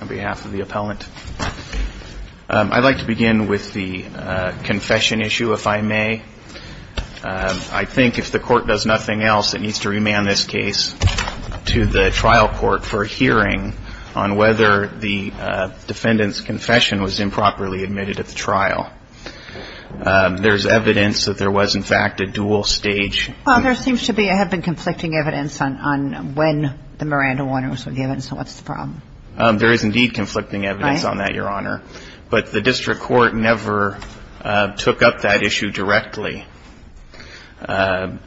on behalf of the appellant. I'd like to begin with the confession issue, if I may. I think if the court does nothing else, it needs to remand this case to the trial court for a hearing on whether the defendant's confession was improperly admitted at the trial. There's evidence that there was, in fact, a dual stage. Well, there seems to have been conflicting evidence on when the Miranda Warner was with the evidence, so what's the problem? There is, indeed, conflicting evidence on that, Your Honor. But the district court never took up that issue directly.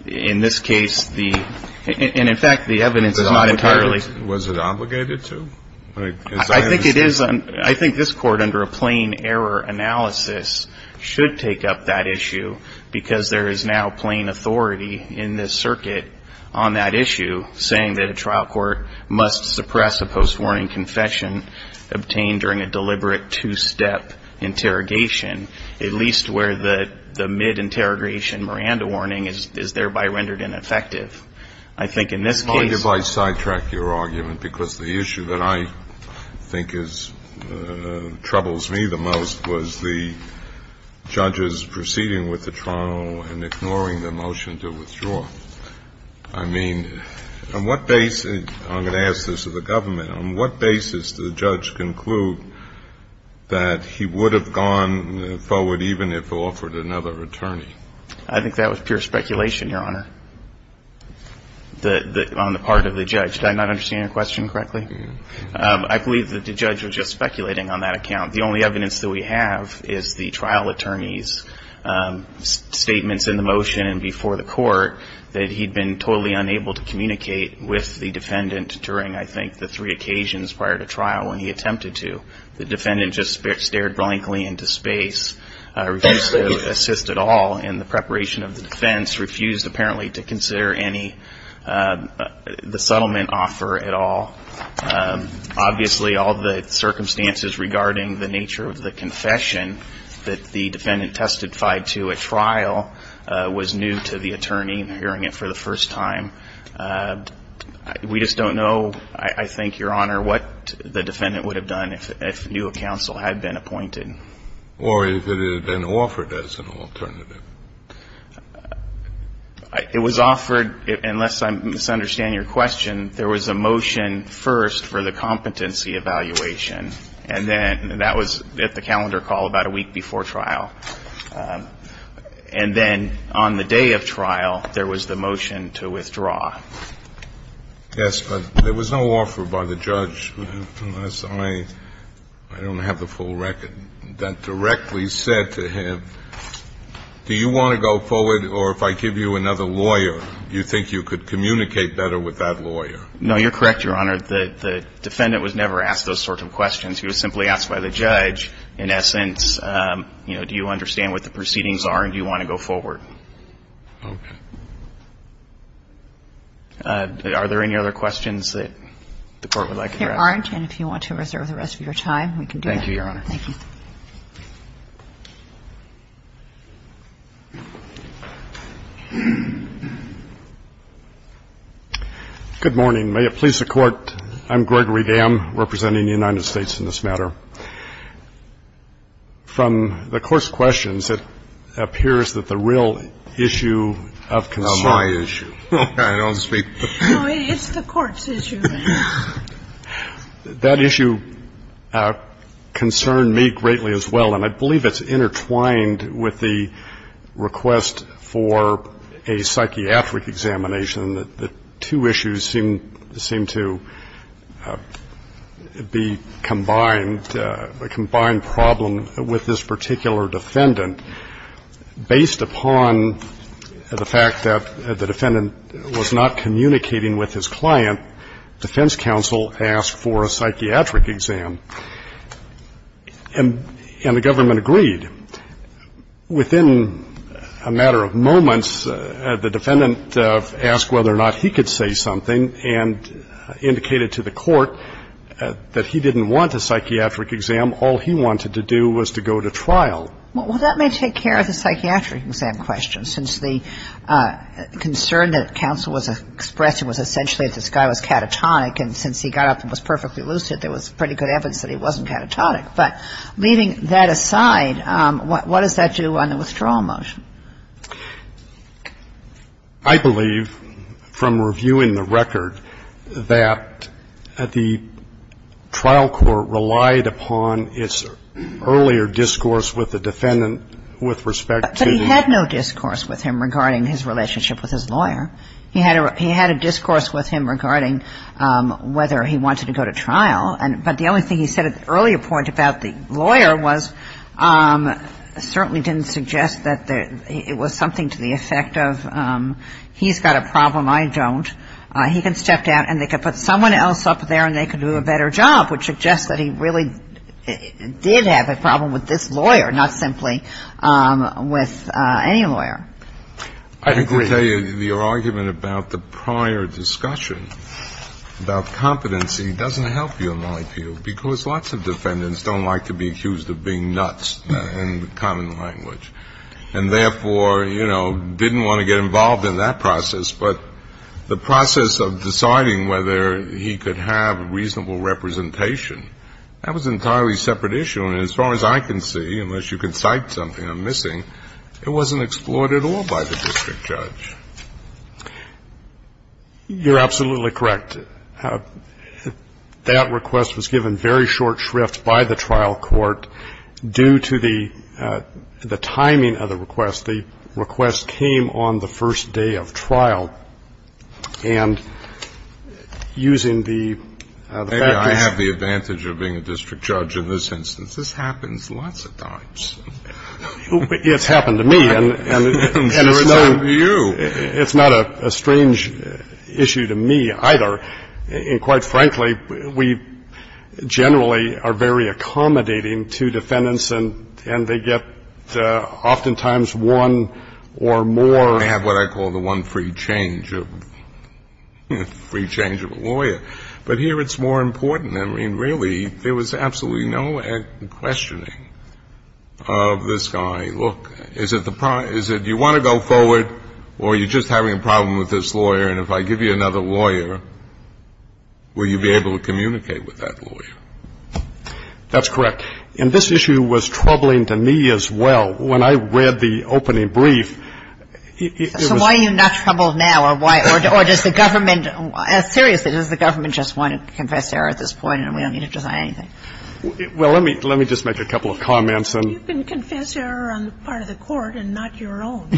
In this case, the – and, in fact, the evidence is not entirely – Was it obligated to? I think it is – I think this court, under a plain error analysis, should take up that issue because there is now plain authority in this circuit on that issue saying that a trial court must suppress a post-warning confession obtained during a deliberate two-step interrogation, at least where the mid-interrogation Miranda warning is thereby rendered ineffective. I think in this case – And I think what I think troubles me the most was the judges proceeding with the trial and ignoring the motion to withdraw. I mean, on what basis – I'm going to ask this of the government – on what basis did the judge conclude that he would have gone forward even if offered another attorney? I think that was pure speculation, Your Honor, on the part of the judge. Did I not understand your question correctly? I believe that the judge was just speculating on that account. The only evidence that we have is the trial attorney's statements in the motion and before the court that he'd been totally unable to communicate with the defendant during, I think, the three occasions prior to trial when he attempted to. The defendant just stared blankly into space, refused to assist at all in the preparation of the defense, refused apparently to consider any – the settlement offer at all. Obviously, all the circumstances regarding the nature of the confession that the defendant testified to at trial was new to the attorney in hearing it for the first time. We just don't know, I think, Your Honor, what the defendant would have done if new counsel had been appointed. Or if it had been offered as an alternative. It was offered – unless I'm misunderstanding your question, there was a motion first for the competency evaluation. And then that was at the calendar call about a week before trial. And then on the day of trial, there was the motion to withdraw. Yes, but there was no offer by the judge, unless I don't have the full record, that directly said to him, do you want to go forward, or if I give you another lawyer, you think you could communicate better with that lawyer? No, you're correct, Your Honor. The defendant was never asked those sorts of questions. He was simply asked by the judge, in essence, you know, do you understand what the proceedings are and do you want to go forward? Okay. Are there any other questions that the Court would like to address? There aren't. And if you want to reserve the rest of your time, we can do that. Thank you, Your Honor. Thank you. Good morning. May it please the Court, I'm Gregory Gamm representing the United States in this matter. From the Court's questions, it appears that the real issue of concern. It's my issue. I don't speak. No, it's the Court's issue. That issue concerned me greatly as well, and I believe it's intertwined with the request for a psychiatric examination, that the two issues seem to be combined. A combined problem with this particular defendant, based upon the fact that the defendant was not communicating with his client, defense counsel asked for a psychiatric exam. And the government agreed. Within a matter of moments, the defendant asked whether or not he could say something and indicated to the Court that he didn't want a psychiatric exam. All he wanted to do was to go to trial. Well, that may take care of the psychiatric exam question, since the concern that counsel was expressing was essentially that this guy was catatonic, and since he got up and was perfectly lucid, there was pretty good evidence that he wasn't catatonic. But leaving that aside, what does that do on the withdrawal motion? I believe, from reviewing the record, that the trial court relied upon its earlier discourse with the defendant with respect to the lawyer. But he had no discourse with him regarding his relationship with his lawyer. He had a discourse with him regarding whether he wanted to go to trial, but the only thing he said at the earlier point about the lawyer was certainly didn't suggest that it was something to the effect of he's got a problem, I don't. He can step down and they can put someone else up there and they can do a better job, which suggests that he really did have a problem with this lawyer, not simply with any lawyer. I agree. The argument about the prior discussion about competency doesn't help you in my view because lots of defendants don't like to be accused of being nuts in common language and therefore, you know, didn't want to get involved in that process. But the process of deciding whether he could have reasonable representation, that was an entirely separate issue. And as far as I can see, unless you can cite something I'm missing, it wasn't explored at all by the district judge. You're absolutely correct. And that request was given very short shrift by the trial court due to the timing of the request. The request came on the first day of trial. And using the factors of the district judge in this instance, this happens lots of times. It's happened to me. And it's not a strange issue to me either. And quite frankly, we generally are very accommodating to defendants and they get oftentimes one or more. I have what I call the one free change of a lawyer. But here it's more important. I mean, really, there was absolutely no questioning of this guy. Look, is it you want to go forward or you're just having a problem with this lawyer and if I give you another lawyer, will you be able to communicate with that lawyer? That's correct. And this issue was troubling to me as well. When I read the opening brief, it was... So why are you not troubled now or does the government, seriously, does the government just want to confess error at this point and we don't need to decide anything? Well, let me just make a couple of comments. You can confess error on the part of the court and not your own.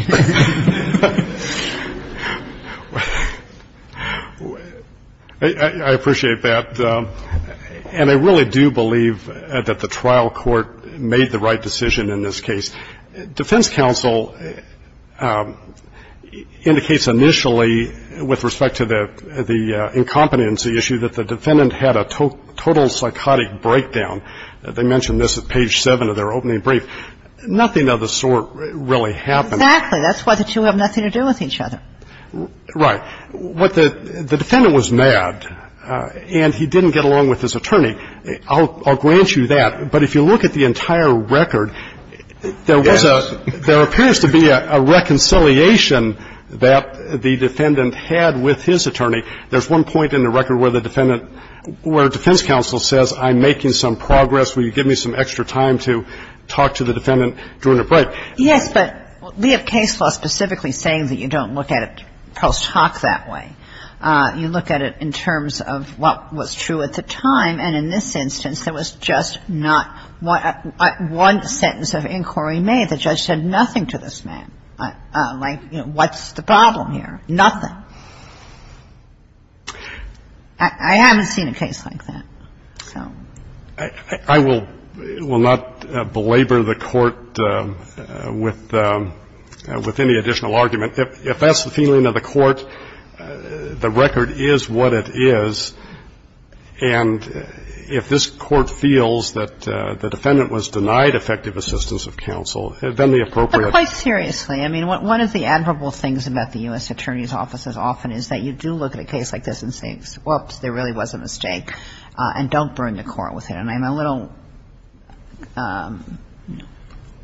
I appreciate that. And I really do believe that the trial court made the right decision in this case. Defense counsel indicates initially with respect to the incompetency issue that the defendant had a total psychotic breakdown. They mentioned this at page 7 of their opening brief. Nothing of the sort really happened. Exactly. That's why the two have nothing to do with each other. Right. What the defendant was mad and he didn't get along with his attorney. I'll grant you that. But if you look at the entire record, there was a – there appears to be a reconciliation that the defendant had with his attorney. There's one point in the record where the defendant – where defense counsel says I'm making some progress, will you give me some extra time to talk to the defendant during the break? Yes, but we have case law specifically saying that you don't look at it post hoc that way. You look at it in terms of what was true at the time. And in this instance, there was just not one sentence of inquiry made. The judge said nothing to this man. Like, you know, what's the problem here? Nothing. I haven't seen a case like that. I will not belabor the Court with any additional argument. If that's the feeling of the Court, the record is what it is. And if this Court feels that the defendant was denied effective assistance of counsel, then the appropriate – But quite seriously. I mean, one of the admirable things about the U.S. Attorney's Office as often is that you do look at a case like this and say, whoops, there really was a mistake. And don't bring the Court with it. And I'm a little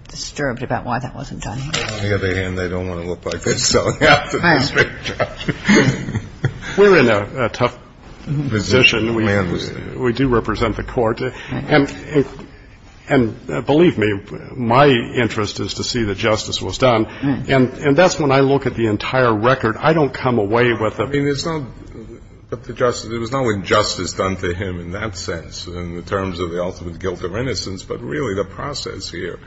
disturbed about why that wasn't done. On the other hand, they don't want to look like they're selling out to the district judge. We're in a tough position. We do represent the Court. And believe me, my interest is to see that justice was done. And that's when I look at the entire record. I don't come away with a – I mean, there's no – there was no injustice done to him in that sense in terms of the ultimate guilt of innocence. But really, the process here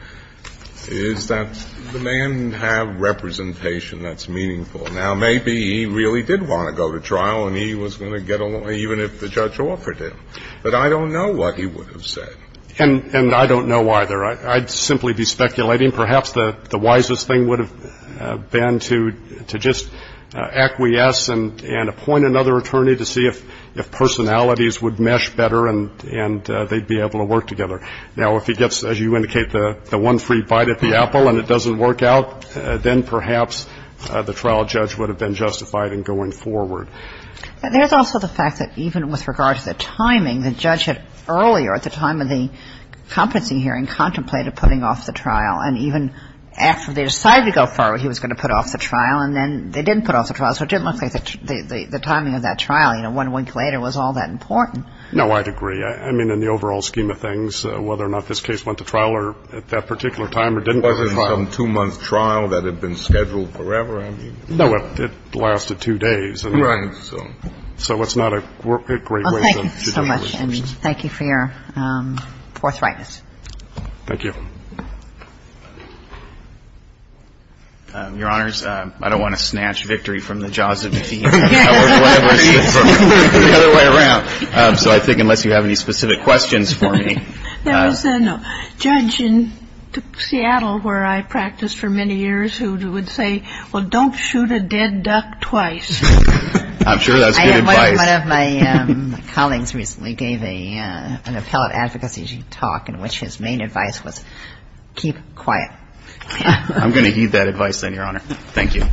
is that the man had representation that's meaningful. Now, maybe he really did want to go to trial and he was going to get a – even if the judge offered him. But I don't know what he would have said. And I don't know either. I'd simply be speculating. I mean, perhaps the wisest thing would have been to just acquiesce and appoint another attorney to see if personalities would mesh better and they'd be able to work together. Now, if he gets, as you indicate, the one free bite at the apple and it doesn't work out, then perhaps the trial judge would have been justified in going forward. But there's also the fact that even with regard to the timing, the judge had earlier at the time of the competency hearing contemplated putting off the trial. And even after they decided to go forward, he was going to put off the trial, and then they didn't put off the trial. So it didn't look like the timing of that trial, you know, one week later, was all that important. No, I'd agree. I mean, in the overall scheme of things, whether or not this case went to trial or at that particular time or didn't go to trial. Was it some two-month trial that had been scheduled forever? I mean – No, it lasted two days. Right. So it's not a great way to – Well, thank you so much. And thank you for your forthrightness. Thank you. Your Honors, I don't want to snatch victory from the jaws of the team. Or the other way around. So I think unless you have any specific questions for me – There was a judge in Seattle where I practiced for many years who would say, well, don't shoot a dead duck twice. I'm sure that's good advice. One of my colleagues recently gave an appellate advocacy talk in which his main advice was keep quiet. I'm going to heed that advice then, Your Honor. Thank you.